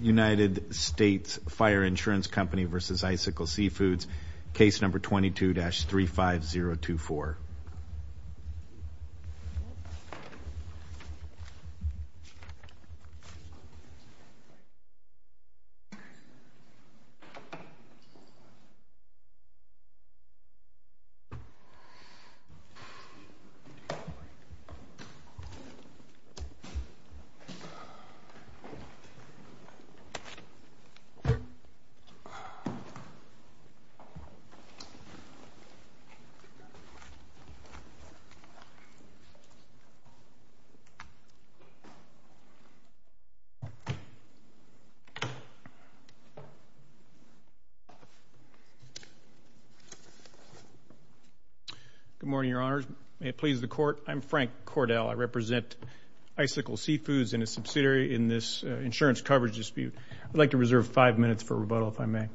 United States Fire Insurance Company v. Icicle Seafoods, Good morning, Your Honors. May it please the Court, I'm Frank Cordell. I represent Icicle Seafoods and a subsidiary in this insurance coverage dispute. I'd like to reserve five minutes for rebuttal, if I may.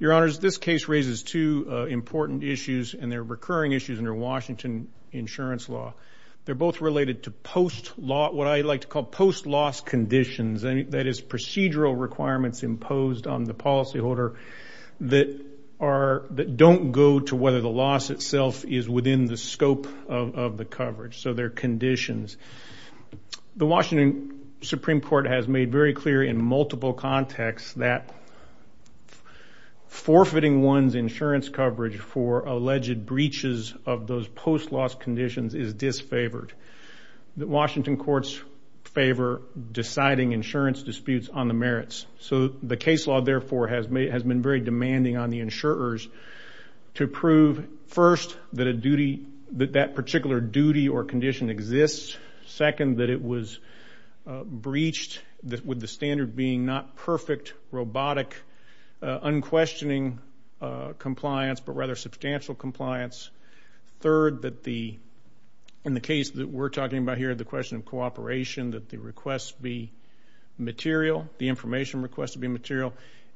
Your Honors, this case raises two important issues and they're recurring issues under Washington insurance law. They're both related to post-law, what I like to call post-loss conditions, that is procedural requirements imposed on the policyholder that don't go to whether the loss itself is within the scope of the conditions. The Washington Supreme Court has made very clear in multiple contexts that forfeiting one's insurance coverage for alleged breaches of those post-loss conditions is disfavored. The Washington courts favor deciding insurance disputes on the merits. So the case law, therefore, has been very demanding on the insurers to prove, first, that that particular duty or condition exists. Second, that it was breached with the standard being not perfect robotic unquestioning compliance, but rather substantial compliance. Third, that the, in the case that we're talking about here, the question of cooperation, that the request be material, the information request to be material.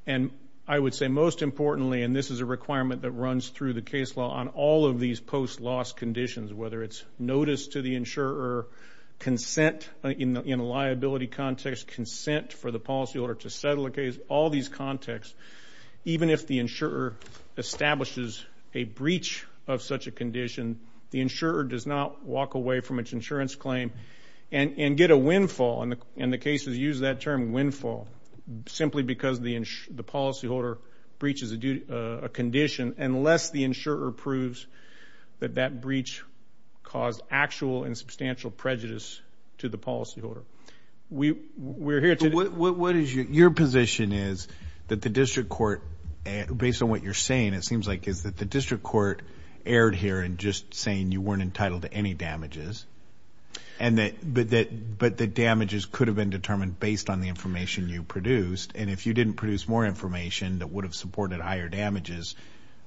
And I would say most importantly, and this is a requirement that runs through the case law on all of these post-loss conditions, whether it's notice to the insurer, consent in a liability context, consent for the policyholder to settle a case, all these contexts, even if the insurer establishes a breach of such a condition, the insurer does not walk away from its insurance claim and get a windfall, and the cases use that term, windfall, simply because the policyholder breaches a condition unless the insurer proves that that breach caused actual and substantial prejudice to the policyholder. We, we're here to... What, what is your position is that the district court, based on what you're saying, it seems like, is that the district court erred here in just saying you weren't entitled to any damages, and that, but that, but the damages could have been determined based on the information you produced, and if you didn't produce more damages,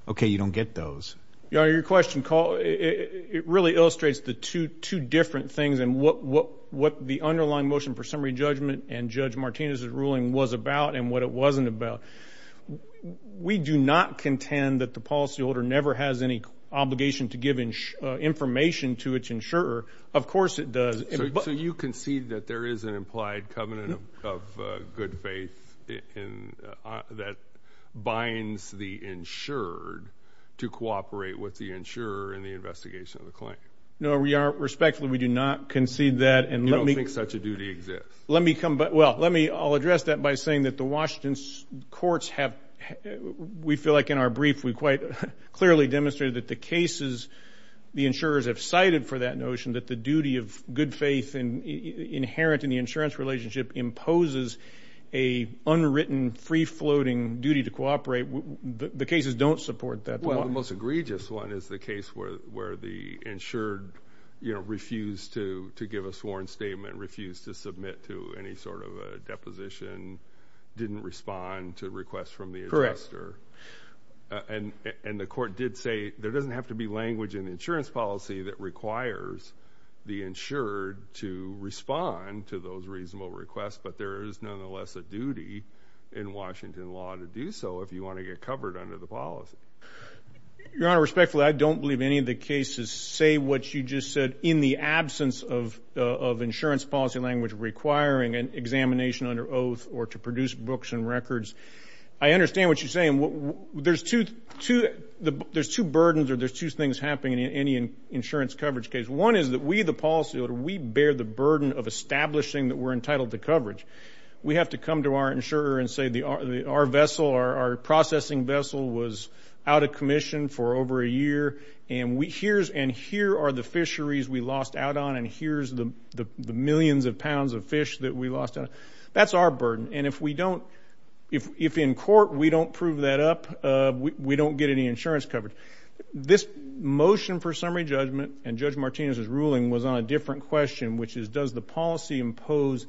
okay, you don't get those. Yeah, your question, Carl, it, it really illustrates the two, two different things, and what, what, what the underlying motion for summary judgment and Judge Martinez's ruling was about and what it wasn't about. We do not contend that the policyholder never has any obligation to give information to its insurer. Of course it does. So you concede that there is an implied covenant of good faith in, that binds the insured to cooperate with the insurer in the investigation of the claim? No, we are, respectfully, we do not concede that, and let me... You don't think such a duty exists? Let me come back, well, let me, I'll address that by saying that the Washington courts have, we feel like in our brief, we quite clearly demonstrated that the cases the insurers have cited for that notion, that the duty of good faith in, inherent in the insurance relationship imposes a unwritten, free-floating duty to cooperate. The cases don't support that. Well, the most egregious one is the case where, where the insured, you know, refused to, to give a sworn statement, refused to submit to any sort of a deposition, didn't respond to requests from the adjuster. Correct. And, and the court did say, there doesn't have to be language in the insurance policy that requires the insured to respond to those reasonable requests, but there is nonetheless a duty in Washington law to do so if you want to get covered under the policy. Your Honor, respectfully, I don't believe any of the cases say what you just said in the absence of, of insurance policy language requiring an examination under oath or to produce books and records. I understand what you're saying. There's two, two, there's two burdens or there's two things happening in any insurance coverage case. One is that we, the policyholder, we bear the burden of establishing that we're entitled to coverage. We have to come to our insurer and say the, our, our vessel, our, our processing vessel was out of commission for over a year and we, here's, and here are the fisheries we lost out on and here's the, the millions of pounds of fish that we lost out on. That's our burden. And if we don't, if, if in court we don't prove that up, we, we don't get any coverage. My question was on a different question, which is, does the policy impose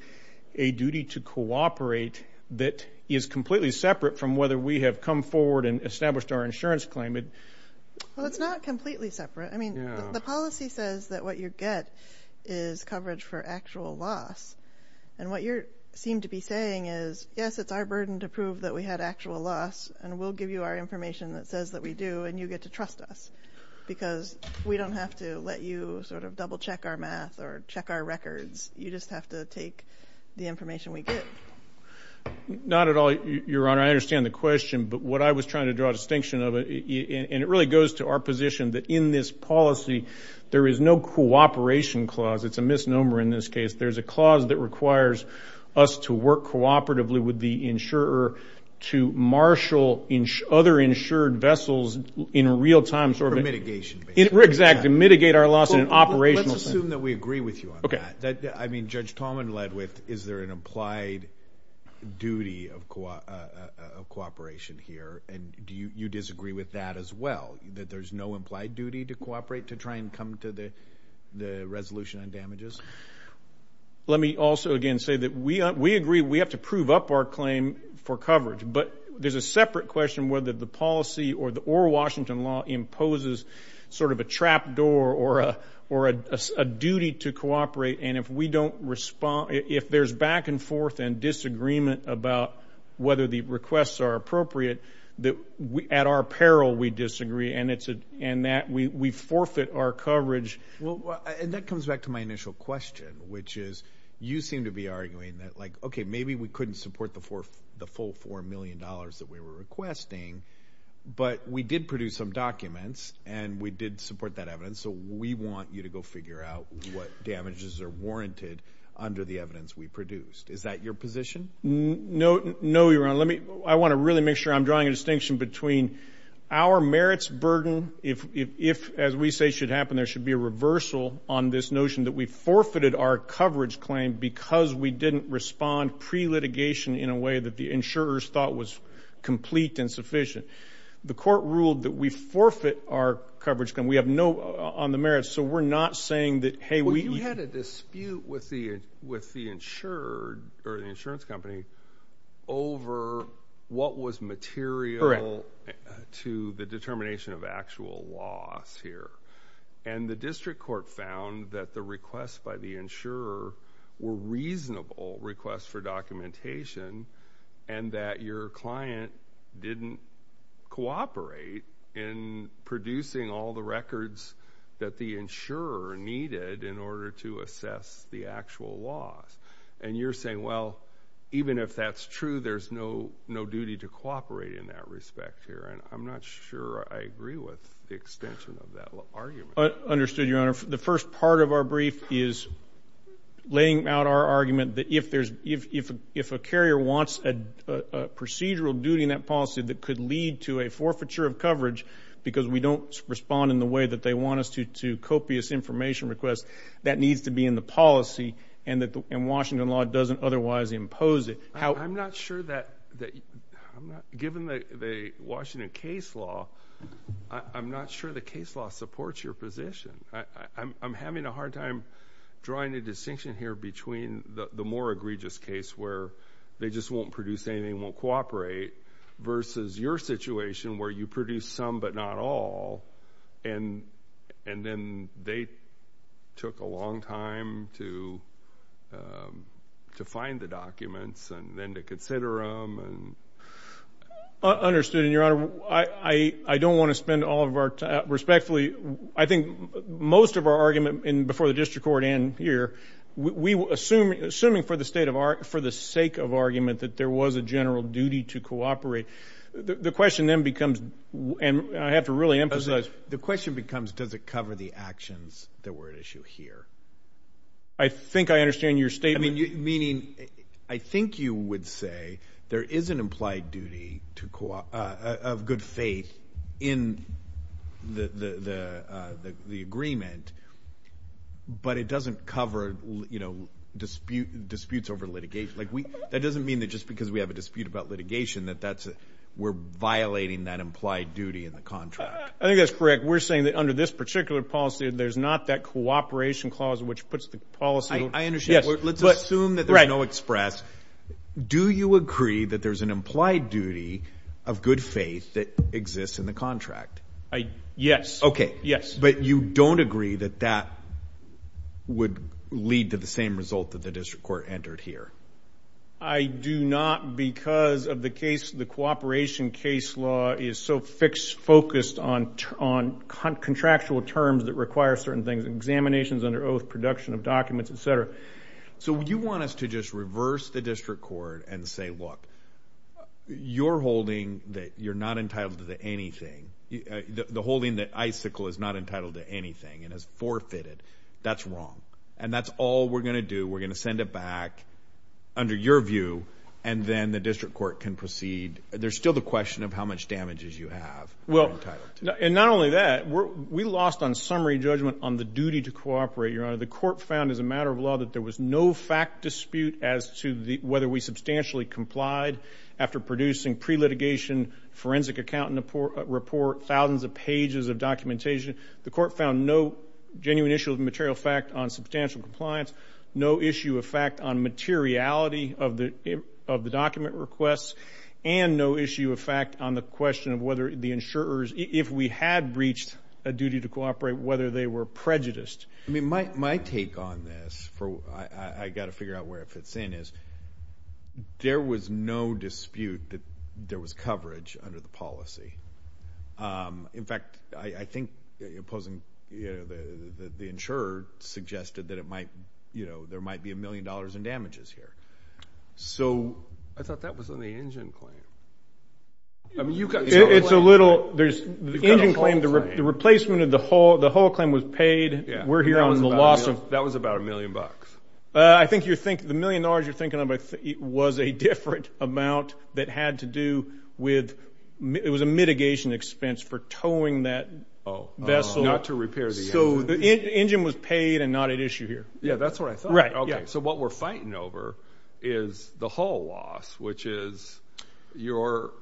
a duty to cooperate that is completely separate from whether we have come forward and established our insurance claim? Well, it's not completely separate. I mean, the policy says that what you get is coverage for actual loss. And what you're, seem to be saying is, yes, it's our burden to prove that we had actual loss and we'll give you our information that says that we do and you get to trust us because we don't have to let you sort of double check our math or check our records. You just have to take the information we get. Not at all, Your Honor. I understand the question, but what I was trying to draw a distinction of it and it really goes to our position that in this policy, there is no cooperation clause. It's a misnomer in this case. There's a clause that requires us to work cooperatively with the insurer to marshal other insured vessels in a real-time sort of a... For mitigation. Exactly. Mitigate our loss in an operational sense. Let's assume that we agree with you on that. I mean, Judge Tallman led with, is there an implied duty of cooperation here? And do you disagree with that as well, that there's no implied duty to cooperate to try and come to the resolution on damages? Let me also again say that we agree we have to prove up our claim for coverage, but there's a separate question whether the policy or Washington law imposes sort of a trap door or a duty to cooperate. And if we don't respond, if there's back and forth and disagreement about whether the requests are appropriate, at our peril, we disagree and that we forfeit our coverage. Well, and that comes back to my initial question, which is, you seem to be arguing that like, okay, maybe we couldn't support the full $4 million that we were requesting, but we did produce some documents and we did support that evidence, so we want you to go figure out what damages are warranted under the evidence we produced. Is that your position? No, Your Honor. I want to really make sure I'm drawing a distinction between our merits burden if, as we say should happen, there should be a reversal on this notion that we forfeited our coverage claim because we didn't respond pre-litigation in a way that the insurers thought was complete and sufficient. The court ruled that we forfeit our coverage claim. We have no on the merits, so we're not saying that, hey, we Well, you had a dispute with the insured or the insurance company over what was material Correct. to the determination of actual loss here. And the district court found that the requests by the insurer were reasonable requests for documentation and that your client didn't cooperate in producing all the records that the insurer needed in order to assess the actual loss. And you're saying, well, even if that's true, there's no duty to cooperate in that respect here. And I'm not sure I agree with the extension of that argument. Understood, Your Honor. The first part of our brief is laying out our argument that if a carrier wants a procedural duty in that policy that could lead to a forfeiture of coverage because we don't respond in the way that they want us to, to copious information requests, that needs to be in the policy, and Washington law doesn't otherwise impose it. I'm not sure that, given the Washington case law, I'm not sure the case law supports your position. I'm having a hard time drawing a distinction here between the more egregious case where they just won't produce anything, won't cooperate, versus your situation where you produce some but not all, and then they took a long time to find the documents and then to consider them and... Understood. And, Your Honor, I don't want to spend all of our time... respectfully, I think most of our argument before the district court and here, we were assuming for the sake of argument that there was a general duty to And I have to really emphasize... The question becomes, does it cover the actions that were at issue here? I think I understand your statement... I mean, meaning, I think you would say there is an implied duty of good faith in the agreement, but it doesn't cover disputes over litigation. That doesn't mean that just because we have a dispute about an implied duty in the contract. I think that's correct. We're saying that under this particular policy, there's not that cooperation clause which puts the policy... I understand. Let's assume that there's no express. Do you agree that there's an implied duty of good faith that exists in the contract? Yes. Okay. Yes. But you don't agree that that would lead to the same result that the district court entered here? I do not because of the case, the litigation case law is so fixed, focused on contractual terms that require certain things, examinations under oath, production of documents, etc. So, you want us to just reverse the district court and say, look, you're holding that you're not entitled to anything. The holding that Icicle is not entitled to anything and has forfeited. That's wrong. And that's all we're going to do. We're going to send it back under your view and then the question of how much damages you have. And not only that, we lost on summary judgment on the duty to cooperate, Your Honor. The court found as a matter of law that there was no fact dispute as to whether we substantially complied after producing pre-litigation forensic accountant report, thousands of pages of documentation. The court found no genuine issue of material fact on substantial compliance, no issue of fact on materiality of the document requests, and no issue of fact on the question of whether the insurers, if we had breached a duty to cooperate, whether they were prejudiced. I mean, my take on this, I've got to figure out where it fits in, is there was no dispute that there was coverage under the policy. In fact, I think the insurer suggested that it might, you know, there might be a million dollars in damages here. So, I thought that was on the engine claim. I mean, you've got the whole claim. It's a little, there's the engine claim, the replacement of the whole claim was paid. We're here on the loss of. That was about a million bucks. I think you think the million dollars you're thinking of was a different amount that had to do with, it was a mitigation expense for towing that vessel. Not to repair the engine. So, the whole we're fighting over is the hull loss, which is your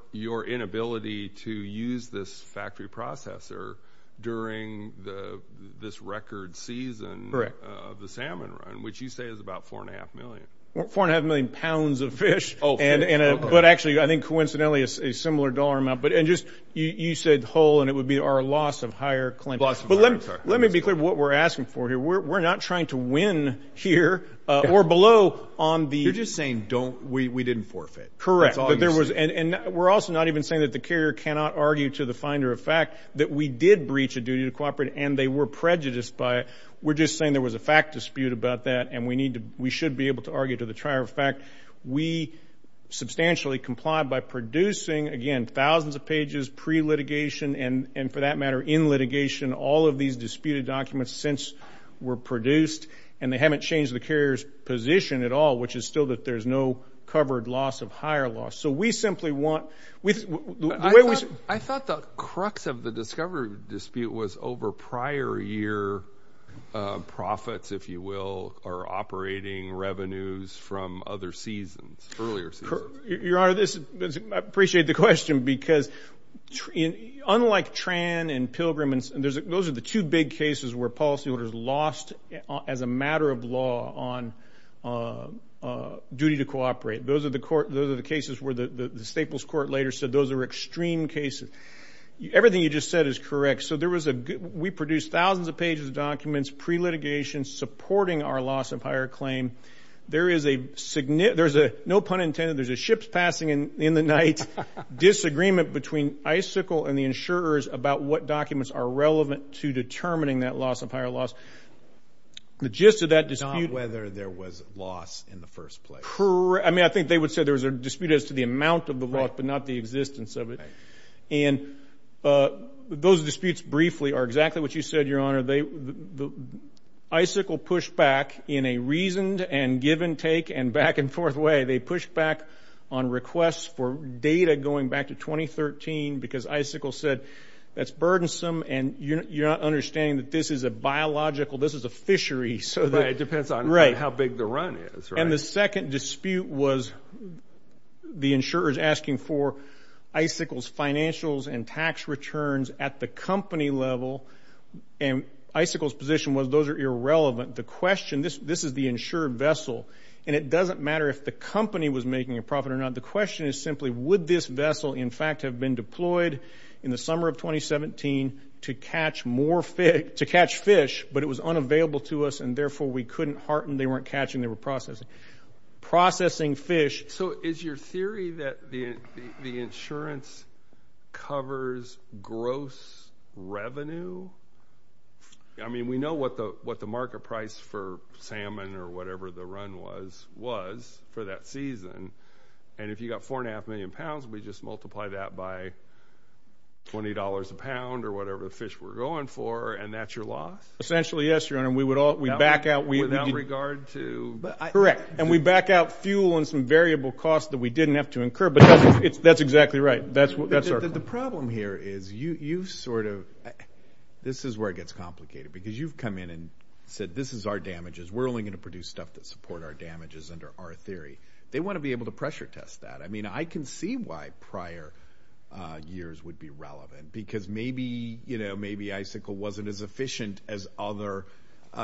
inability to use this factory processor during this record season of the salmon run, which you say is about four and a half million. Four and a half million pounds of fish. But actually, I think coincidentally a similar dollar amount. You said hull and it would be our loss of higher claim. Let me be clear what we're asking for here. We're not trying to win here or below on the. You're just saying we didn't forfeit. Correct. We're also not even saying that the carrier cannot argue to the finder of fact that we did breach a duty to cooperate and they were prejudiced by it. We're just saying there was a fact dispute about that and we should be able to argue to the trier of fact. We substantially complied by producing, again, thousands of these disputed documents since were produced and they haven't changed the carrier's position at all, which is still that there's no covered loss of higher loss. So, we simply want. I thought the crux of the discovery dispute was over prior year profits, if you will, or operating revenues from other seasons, earlier seasons. Your Honor, I appreciate the question because unlike Tran and Pilgrim, those are the two big cases where policyholders lost as a matter of law on duty to cooperate. Those are the cases where the Staples Court later said those are extreme cases. Everything you just said is correct. So, we produced thousands of pages of documents pre-litigation supporting our loss of higher claim. There is a, no pun intended, there's a ship's passing in the night disagreement between Icicle and the insurers about what documents are relevant to determining that loss of higher loss. The gist of that dispute. Not whether there was loss in the first place. I mean, I think they would say there was a dispute as to the amount of the loss but not the existence of it. Those disputes briefly are exactly what you said, Your Honor. Icicle pushed back in a reasoned and give and take and back and forth way. They pushed back on requests for data going back to 2013 because Icicle said that's burdensome and you're not understanding that this is a biological, this is a fishery. So, it depends on how big the run is. Right. And the second dispute was the insurers asking for Icicle's financials and tax returns at the company level. And Icicle's position was those are irrelevant. The question, this is the insured vessel. And it doesn't matter if the company was making a profit or not. The question is simply would this vessel in fact have been deployed in the summer of 2017 to catch more fish, to catch fish, but it was unavailable to us and therefore we couldn't harten, they weren't catching, they were processing. Processing fish. So, is your theory that the revenue, I mean, we know what the market price for salmon or whatever the run was, was for that season. And if you got four and a half million pounds, we just multiply that by $20 a pound or whatever the fish were going for and that's your loss? Essentially, yes, Your Honor. We would all, we back out. Without regard to? Correct. And we back out fuel and some variable costs that we didn't have to incur. But that's exactly right. That's our problem here is you sort of, this is where it gets complicated because you've come in and said this is our damages. We're only going to produce stuff that support our damages under our theory. They want to be able to pressure test that. I mean, I can see why prior years would be relevant because maybe, you know, maybe Icicle wasn't as efficient as other,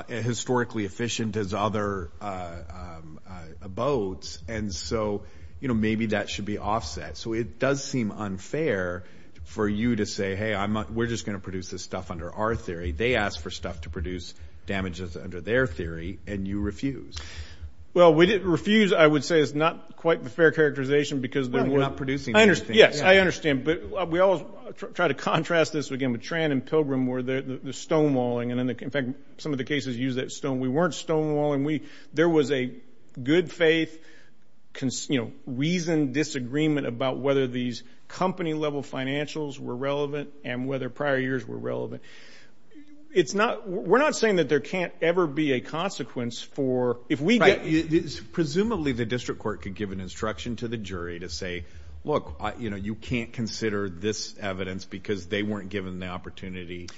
historically efficient as other boats. And so, you know, maybe that should be offset. So it does seem unfair for you to say, hey, we're just going to produce this stuff under our theory. They ask for stuff to produce damages under their theory and you refuse. Well, we didn't refuse. I would say it's not quite the fair characterization because we're not producing anything. Yes, I understand. But we always try to contrast this again with Tran and Pilgrim where the stonewalling and in fact some of the cases use that stone. We weren't stonewalling. We, there was a good faith, you know, reason disagreement about whether these company level financials were relevant and whether prior years were relevant. It's not, we're not saying that there can't ever be a consequence for if we get... Right. Presumably the district court could give an instruction to the jury to say, look, you know, you can't consider this evidence because they weren't given the evidence.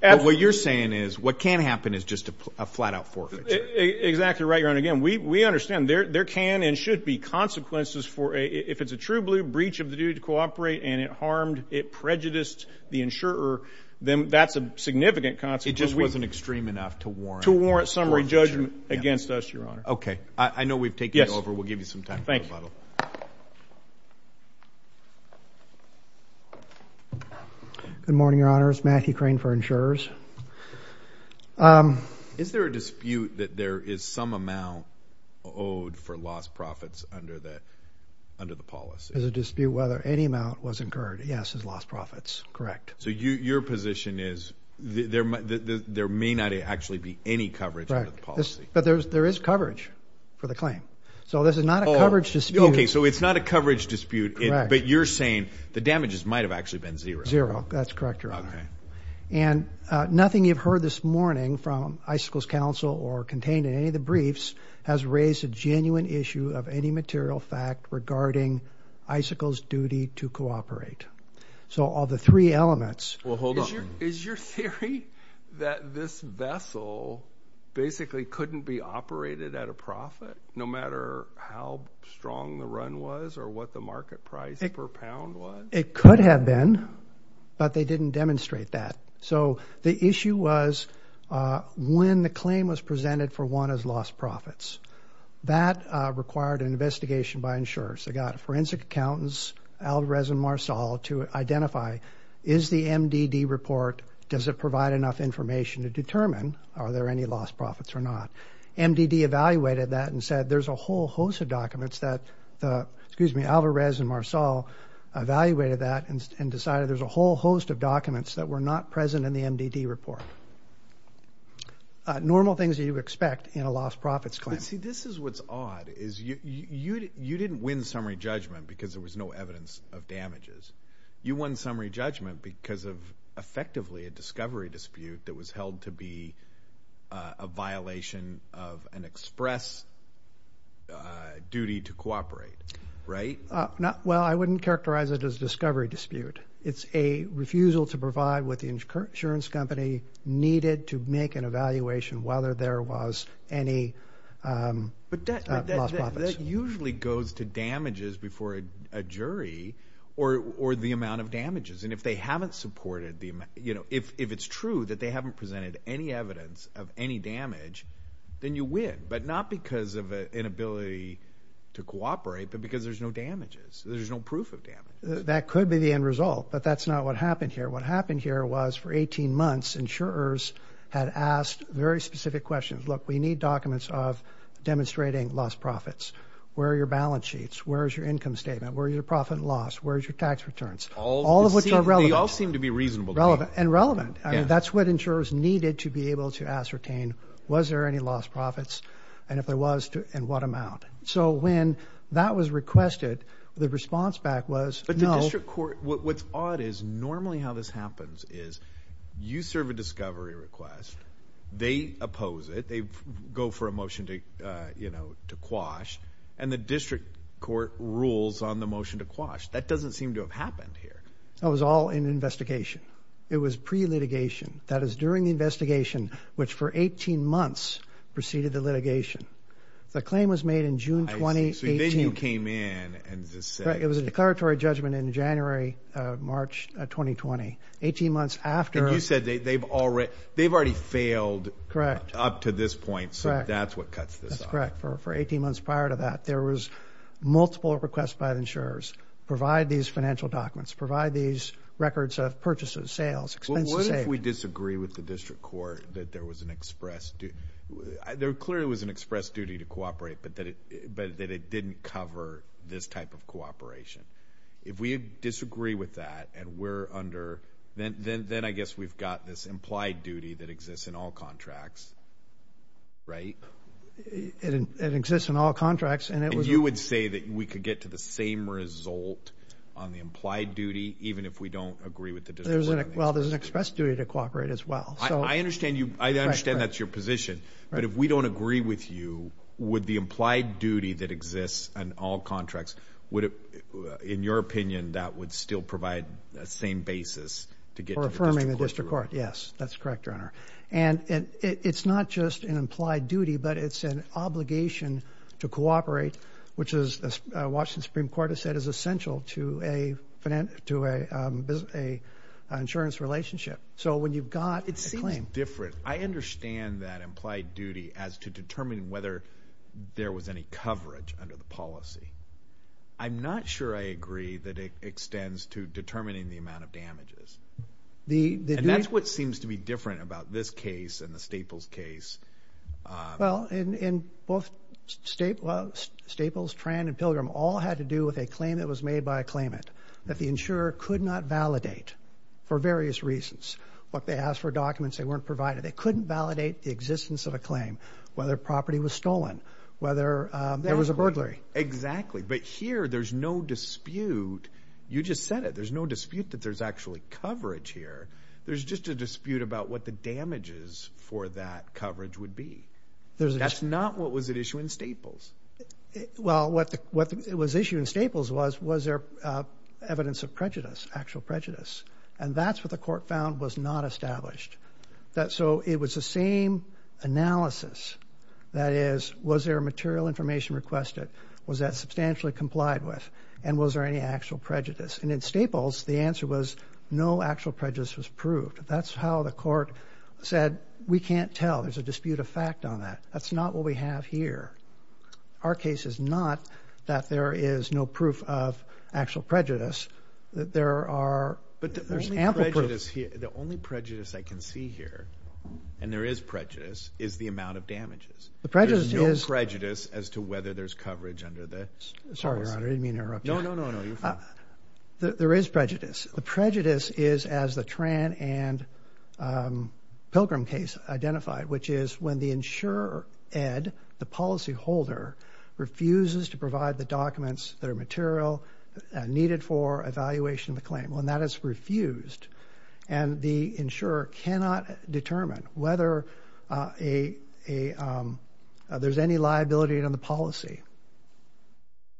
But what you're saying is what can happen is just a flat out forfeiture. Exactly right, Your Honor. And again, we understand there can and should be consequences for a, if it's a true breach of the duty to cooperate and it harmed, it prejudiced the insurer, then that's a significant consequence. It just wasn't extreme enough to warrant... To warrant summary judgment against us, Your Honor. Okay. I know we've taken it over. Yes. We'll give you some time for rebuttal. Thank you. Good morning, Your Honors. Matthew Crane for insurers. Is there a dispute that there is some amount owed for lost profits under the, under the policy? There's a dispute whether any amount was incurred. Yes, it's lost profits. Correct. So you, your position is there may not actually be any coverage under the policy. But there's, there is coverage for the claim. So this is not a coverage dispute. Okay. So it's not a coverage dispute, but you're saying the damages might've actually been zero. Zero. That's correct, Your Honor. Okay. And nothing you've heard this morning from Icicles Council or contained in any of the briefs has raised a genuine issue of any material fact regarding Icicles duty to cooperate. So all the three elements... Well, hold on. Is your theory that this vessel basically couldn't be operated at a profit no matter how strong the run was or what the market price per pound was? It could have been, but they didn't demonstrate that. So the issue was when the claim was presented for one as lost profits. That required an investigation by insurers. They got forensic accountants, Alvarez and Marsal, to identify, is the MDD report, does it provide enough information to determine are there any lost profits or not? MDD evaluated that and said there's a whole host of documents that, excuse me, Alvarez and Marsal evaluated that and decided there's a whole host of documents that were not present in the MDD report. Normal things that you expect in a lost profits claim. See, this is what's odd is you didn't win summary judgment because there was no evidence of damages. You won summary judgment because of effectively a discovery dispute that was held to be a violation of an express duty to cooperate, right? Well, I wouldn't characterize it as a discovery dispute. It's a refusal to provide what the insurance company needed to make an evaluation whether there was any lost profits. But that usually goes to damages before a jury or the amount of damages. And if it's true that they haven't presented any evidence of any damage, then you win, but not because of an inability to cooperate but because there's no damages. There's no proof of damages. That could be the end result, but that's not what happened here. What happened here was for 18 months insurers had asked very specific questions. Look, we need documents of demonstrating lost profits. Where are your balance sheets? Where is your income statement? Where is your profit and loss? Where is your tax returns? All of which are relevant. They all seem to be reasonable to me. And relevant. That's what insurers needed to be able to ascertain was there any lost profits and if there was and what amount. So when that was requested, the response back was no. But the district court, what's odd is normally how this happens is you serve a discovery request, they oppose it, they go for a motion to quash, and the district court rules on the motion to quash. That doesn't seem to have happened here. That was all in investigation. It was pre-litigation. That is during the investigation, which for 18 months preceded the litigation. The claim was made in June 2018. So then you came in and just said. It was a declaratory judgment in January, March 2020. 18 months after. And you said they've already failed up to this point. Correct. So that's what cuts this off. That's correct. There was multiple requests by insurers. Provide these financial documents. Provide these records of purchases, sales, expenses. What if we disagree with the district court that there was an express duty? There clearly was an express duty to cooperate, but that it didn't cover this type of cooperation. If we disagree with that and we're under, then I guess we've got this implied duty that exists in all contracts, right? It exists in all contracts. And you would say that we could get to the same result on the implied duty even if we don't agree with the district court? Well, there's an express duty to cooperate as well. I understand that's your position. But if we don't agree with you, would the implied duty that exists in all contracts, in your opinion, that would still provide the same basis to get to the district court? That's correct, Your Honor. And it's not just an implied duty, but it's an obligation to cooperate, which, as the Washington Supreme Court has said, is essential to an insurance relationship. So when you've got a claim. It seems different. I understand that implied duty as to determine whether there was any coverage under the policy. I'm not sure I agree that it extends to determining the amount of damages. And that's what seems to be different about this case and the Staples case. Well, in both Staples, Tran, and Pilgrim, all had to do with a claim that was made by a claimant that the insurer could not validate for various reasons. What they asked for documents they weren't provided. They couldn't validate the existence of a claim, whether property was stolen, whether there was a burglary. Exactly. But here, there's no dispute. You just said it. There's no dispute that there's actually coverage here. There's just a dispute about what the damages for that coverage would be. That's not what was at issue in Staples. Well, what was at issue in Staples was, was there evidence of prejudice, actual prejudice. And that's what the court found was not established. So it was the same analysis. That is, was there material information requested? Was that substantially complied with? And was there any actual prejudice? And in Staples, the answer was no actual prejudice was proved. That's how the court said, we can't tell. There's a dispute of fact on that. That's not what we have here. Our case is not that there is no proof of actual prejudice. There are ample proofs. But the only prejudice I can see here, and there is prejudice, is the amount of damages. There's no prejudice as to whether there's coverage under this. Sorry, Your Honor. I didn't mean to interrupt you. No, no, no, no. You're fine. There is prejudice. The prejudice is, as the Tran and Pilgrim case identified, which is when the insurer, Ed, the policyholder, refuses to provide the documents that are material needed for evaluation of the claim. Well, and that is refused. And the insurer cannot determine whether there's any liability on the policy.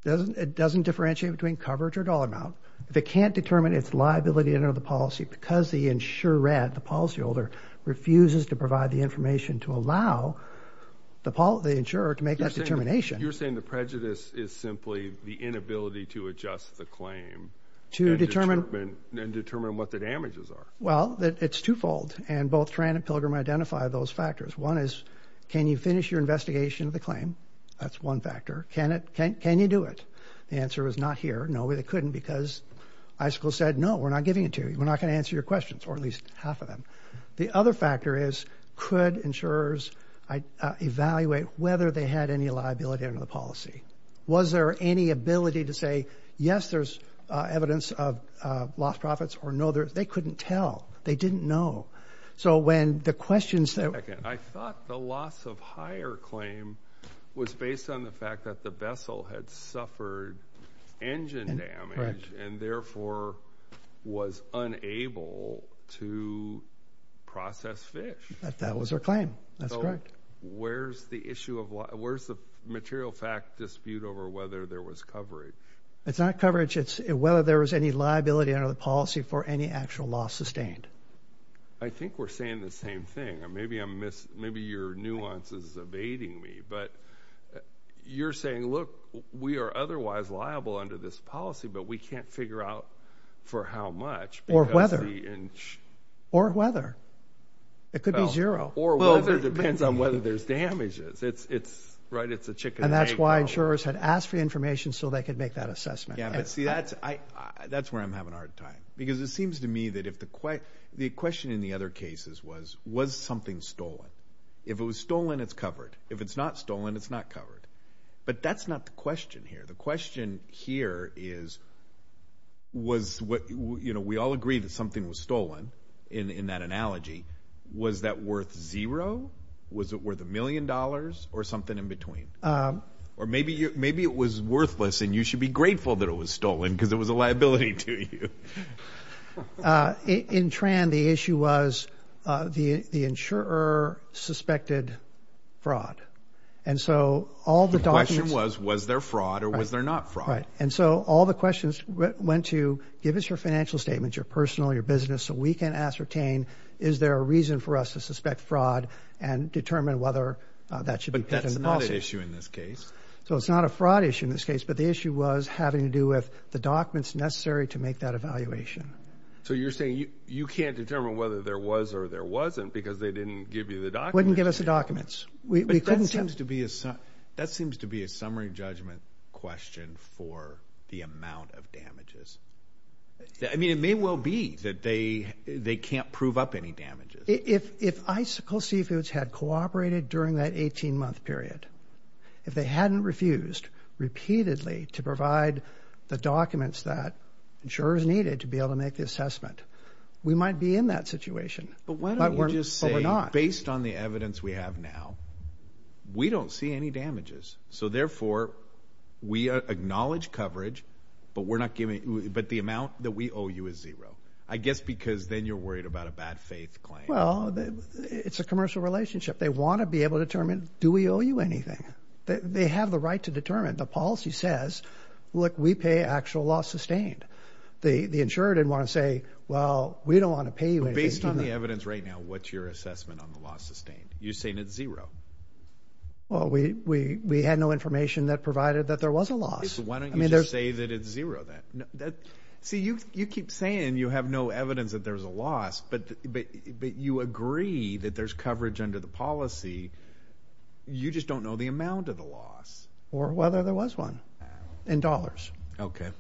It doesn't differentiate between coverage or dollar amount. If it can't determine its liability under the policy because the insurer, Ed, the policyholder, refuses to provide the information to allow the insurer to make that determination. You're saying the prejudice is simply the inability to adjust the claim and determine what the damages are. Well, it's twofold, and both Tran and Pilgrim identify those factors. One is, can you finish your investigation of the claim? That's one factor. Can you do it? The answer is not here. No, they couldn't because iSchool said, No, we're not giving it to you. We're not going to answer your questions, or at least half of them. The other factor is, could insurers evaluate whether they had any liability under the policy? Was there any ability to say, Yes, there's evidence of lost profits, or, No, they couldn't tell. They didn't know. So when the questions that were raised… …was based on the fact that the vessel had suffered engine damage and, therefore, was unable to process fish. That was their claim. That's correct. So where's the issue of – where's the material fact dispute over whether there was coverage? It's not coverage. It's whether there was any liability under the policy for any actual loss sustained. I think we're saying the same thing. Maybe your nuance is evading me, but you're saying, Look, we are otherwise liable under this policy, but we can't figure out for how much. Or whether. Or whether. It could be zero. Or whether depends on whether there's damages. It's a chicken and egg problem. And that's why insurers had asked for information so they could make that assessment. See, that's where I'm having a hard time because it seems to me that if the – the question in the other cases was, Was something stolen? If it was stolen, it's covered. If it's not stolen, it's not covered. But that's not the question here. The question here is, We all agree that something was stolen in that analogy. Was that worth zero? Was it worth a million dollars or something in between? Or maybe it was worthless and you should be grateful that it was stolen because it was a liability to you. In Tran, the issue was the insurer suspected fraud. And so all the documents – The question was, Was there fraud or was there not fraud? Right. And so all the questions went to, Give us your financial statement, your personal, your business, so we can ascertain, Is there a reason for us to suspect fraud and determine whether that should be put in the policy. But that's not an issue in this case. So it's not a fraud issue in this case, but the issue was having to do with the documents necessary to make that evaluation. So you're saying you can't determine whether there was or there wasn't because they didn't give you the documents? Wouldn't give us the documents. But that seems to be a summary judgment question for the amount of damages. I mean, it may well be that they can't prove up any damages. If Icicle Seafoods had cooperated during that 18-month period, if they hadn't refused repeatedly to provide the documents that insurers needed to be able to make the assessment, we might be in that situation. But why don't you just say, Based on the evidence we have now, we don't see any damages. So therefore, we acknowledge coverage, but the amount that we owe you is zero. I guess because then you're worried about a bad faith claim. Well, it's a commercial relationship. They want to be able to determine, Do we owe you anything? They have the right to determine. The policy says, Look, we pay actual loss sustained. The insurer didn't want to say, Well, we don't want to pay you anything. Based on the evidence right now, what's your assessment on the loss sustained? You're saying it's zero. Well, we had no information that provided that there was a loss. Why don't you just say that it's zero then? See, you keep saying you have no evidence that there's a loss, but you agree that there's coverage under the policy. You just don't know the amount of the loss. Or whether there was one in dollars. Okay.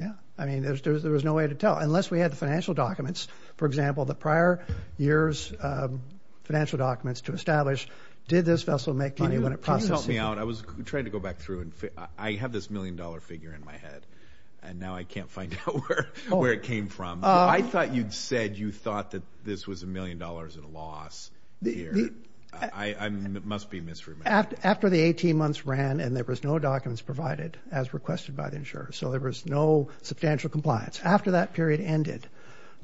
Yeah. I mean, there was no way to tell, unless we had the financial documents. For example, the prior year's financial documents to establish, Did this vessel make money when it processed it? Can you please help me out? I was trying to go back through. I have this million-dollar figure in my head, and now I can't find out where it came from. I thought you'd said you thought that this was a million dollars in loss. I must be misremembering. After the 18 months ran, and there was no documents provided, as requested by the insurer, so there was no substantial compliance. After that period ended,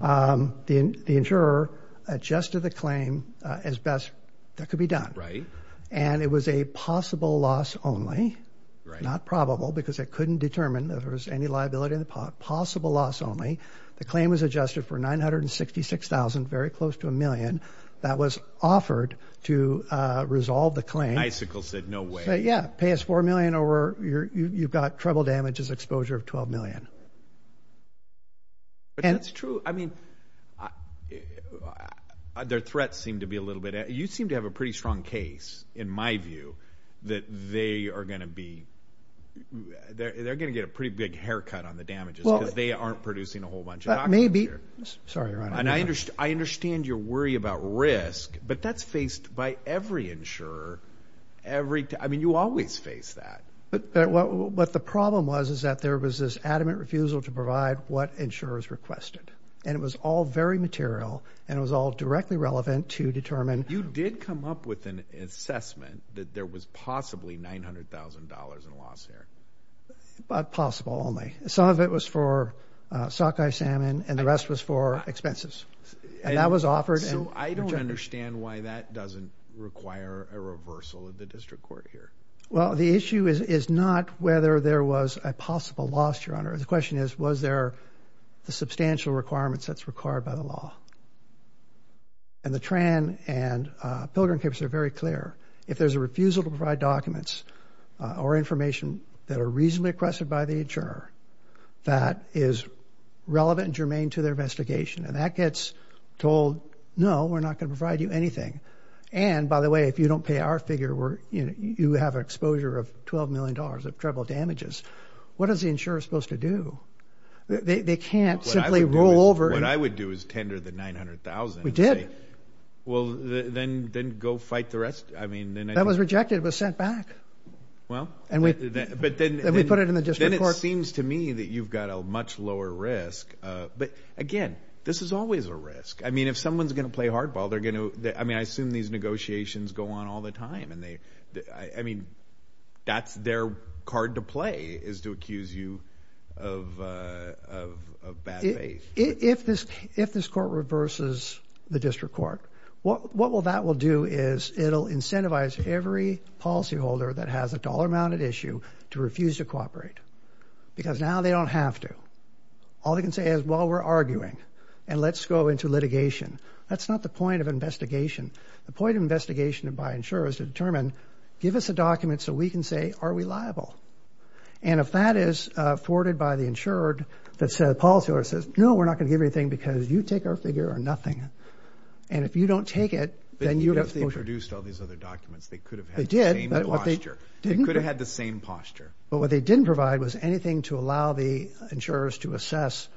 the insurer adjusted the claim as best that could be done. Right. And it was a possible loss only, not probable, because it couldn't determine that there was any liability in the pot. It was a possible loss only. The claim was adjusted for $966,000, very close to a million. That was offered to resolve the claim. Icicle said no way. Yeah. Pay us $4 million, or you've got trouble damages exposure of $12 million. But that's true. I mean, their threats seem to be a little bit. You seem to have a pretty strong case, in my view, that they are going to get a pretty big haircut on the damages because they aren't producing a whole bunch of documents here. Sorry, Ron. I understand your worry about risk, but that's faced by every insurer. I mean, you always face that. But the problem was is that there was this adamant refusal to provide what insurers requested. And it was all very material, and it was all directly relevant to determine. You did come up with an assessment that there was possibly $900,000 in loss here. But possible only. Some of it was for sockeye salmon, and the rest was for expenses. And that was offered. So I don't understand why that doesn't require a reversal of the district court here. Well, the issue is not whether there was a possible loss, Your Honor. The question is was there the substantial requirements that's required by the law. And the Tran and Pilgrim case are very clear. If there's a refusal to provide documents or information that are reasonably requested by the insurer that is relevant and germane to their investigation, and that gets told, no, we're not going to provide you anything. And, by the way, if you don't pay our figure, you have an exposure of $12 million of treble damages. What is the insurer supposed to do? They can't simply roll over. What I would do is tender the $900,000. We did. Well, then go fight the rest. That was rejected. It was sent back. Well, but then it seems to me that you've got a much lower risk. But, again, this is always a risk. I mean, if someone's going to play hardball, they're going to. I mean, I assume these negotiations go on all the time. I mean, that's their card to play is to accuse you of bad faith. If this court reverses the district court, what that will do is it will incentivize every policyholder that has a dollar-mounted issue to refuse to cooperate because now they don't have to. All they can say is, well, we're arguing, and let's go into litigation. That's not the point of investigation. The point of investigation by an insurer is to determine, give us a document so we can say, are we liable? And if that is forwarded by the insurer, the policyholder says, no, we're not going to give you anything because you take our figure or nothing. And if you don't take it, then you have to. Because they produced all these other documents. They could have had the same posture. They could have had the same posture. But what they didn't provide was anything to allow the insurers to assess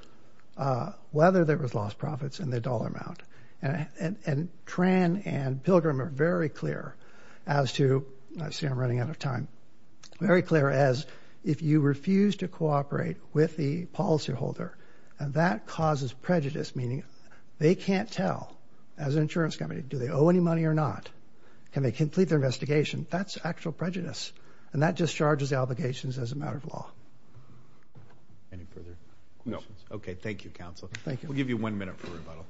whether there was lost profits in the dollar amount. And Tran and Pilgrim are very clear as to – if you refuse to cooperate with the policyholder, that causes prejudice, meaning they can't tell, as an insurance company, do they owe any money or not? Can they complete their investigation? That's actual prejudice. And that discharges the obligations as a matter of law. Any further questions? No. Okay, thank you, Counsel. We'll give you one minute for rebuttal.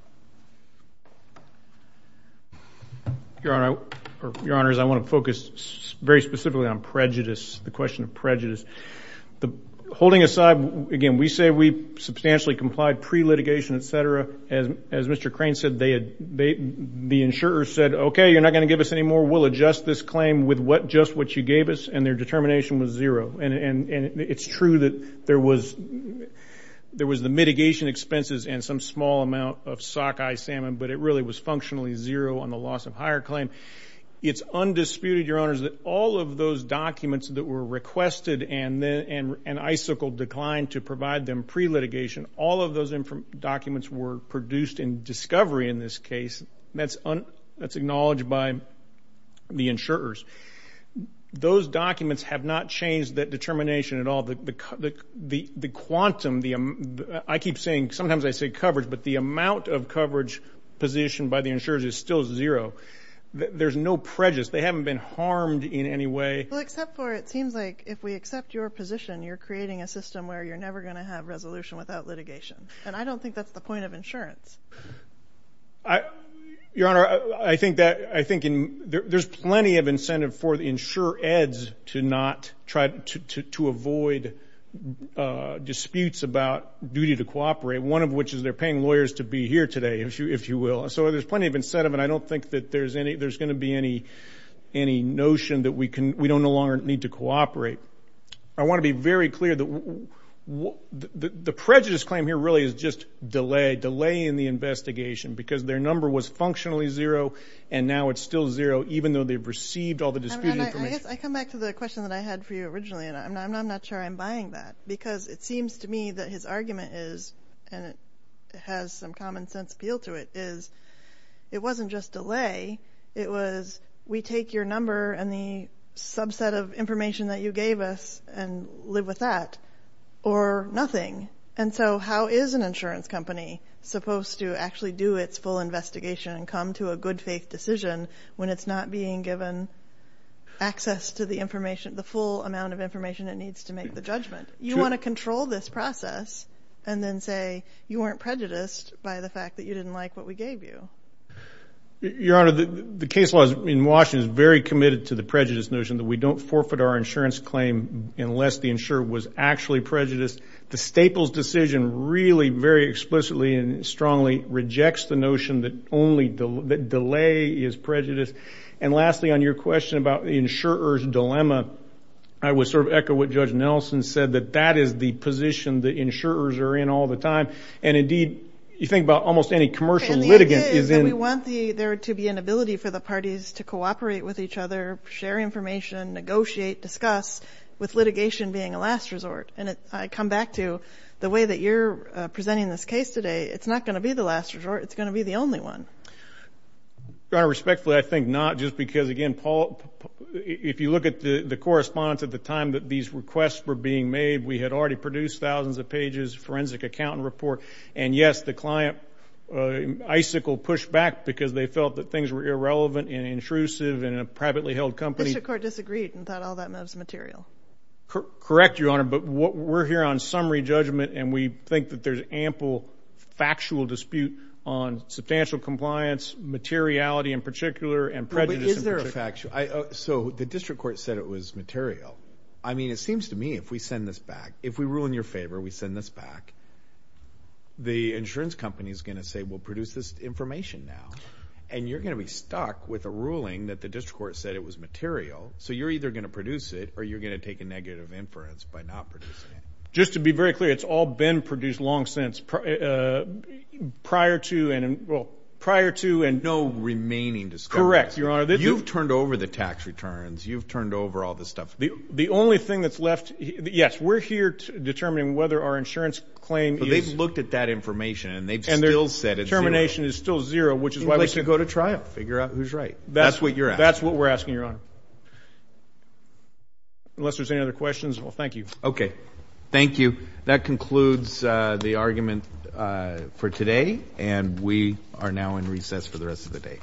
Your Honors, I want to focus very specifically on prejudice, the question of prejudice. Holding aside, again, we say we substantially complied pre-litigation, et cetera. As Mr. Crane said, the insurers said, okay, you're not going to give us any more. We'll adjust this claim with just what you gave us. And their determination was zero. And it's true that there was the mitigation expenses and some small amount of sockeye salmon, but it really was functionally zero on the loss of hire claim. It's undisputed, Your Honors, that all of those documents that were requested and an icicle declined to provide them pre-litigation, all of those documents were produced in discovery in this case. That's acknowledged by the insurers. Those documents have not changed that determination at all. The quantum, I keep saying, sometimes I say coverage, but the amount of coverage positioned by the insurers is still zero. There's no prejudice. They haven't been harmed in any way. Well, except for it seems like if we accept your position, you're creating a system where you're never going to have resolution without litigation. And I don't think that's the point of insurance. Your Honor, I think there's plenty of incentive for the insurer eds to avoid disputes about duty to cooperate, one of which is they're paying lawyers to be here today, if you will. So there's plenty of incentive, and I don't think that there's going to be any notion that we don't no longer need to cooperate. I want to be very clear that the prejudice claim here really is just delay, delay in the investigation because their number was functionally zero, and now it's still zero even though they've received all the disputed information. And I guess I come back to the question that I had for you originally, and I'm not sure I'm buying that, because it seems to me that his argument is, and it has some common sense appeal to it, is it wasn't just delay. It was we take your number and the subset of information that you gave us and live with that or nothing. And so how is an insurance company supposed to actually do its full investigation and come to a good faith decision when it's not being given access to the information, the full amount of information it needs to make the judgment? You want to control this process and then say you weren't prejudiced by the fact that you didn't like what we gave you. Your Honor, the case law in Washington is very committed to the prejudice notion that we don't forfeit our insurance claim unless the insurer was actually prejudiced. The Staples decision really very explicitly and strongly rejects the notion that delay is prejudice. And lastly, on your question about the insurer's dilemma, I would sort of echo what Judge Nelson said, that that is the position that insurers are in all the time. And, indeed, you think about almost any commercial litigant is in. And the idea is that we want there to be an ability for the parties to cooperate with each other, share information, negotiate, discuss, with litigation being a last resort. And I come back to the way that you're presenting this case today. It's not going to be the last resort. It's going to be the only one. Your Honor, respectfully, I think not. Just because, again, Paul, if you look at the correspondence at the time that these requests were being made, we had already produced thousands of pages, forensic accountant report, and, yes, the client icicle pushed back because they felt that things were irrelevant and intrusive in a privately held company. Mr. Court disagreed and thought all that was material. Correct, Your Honor, but we're here on summary judgment, and we think that there's ample factual dispute on substantial compliance, materiality in particular, and prejudice in particular. But is there a factual? So the district court said it was material. I mean, it seems to me if we send this back, if we rule in your favor, we send this back, the insurance company is going to say, well, produce this information now. And you're going to be stuck with a ruling that the district court said it was material. So you're either going to produce it or you're going to take a negative inference by not producing it. Just to be very clear, it's all been produced long since prior to and no remaining discussion. Correct, Your Honor. You've turned over the tax returns. You've turned over all this stuff. The only thing that's left, yes, we're here determining whether our insurance claim is. But they've looked at that information, and they've still said it's zero. And their determination is still zero, which is why we should go to trial, figure out who's right. That's what you're asking. That's what we're asking, Your Honor. Unless there's any other questions, well, thank you. Okay. Thank you. That concludes the argument for today. And we are now in recess for the rest of the day.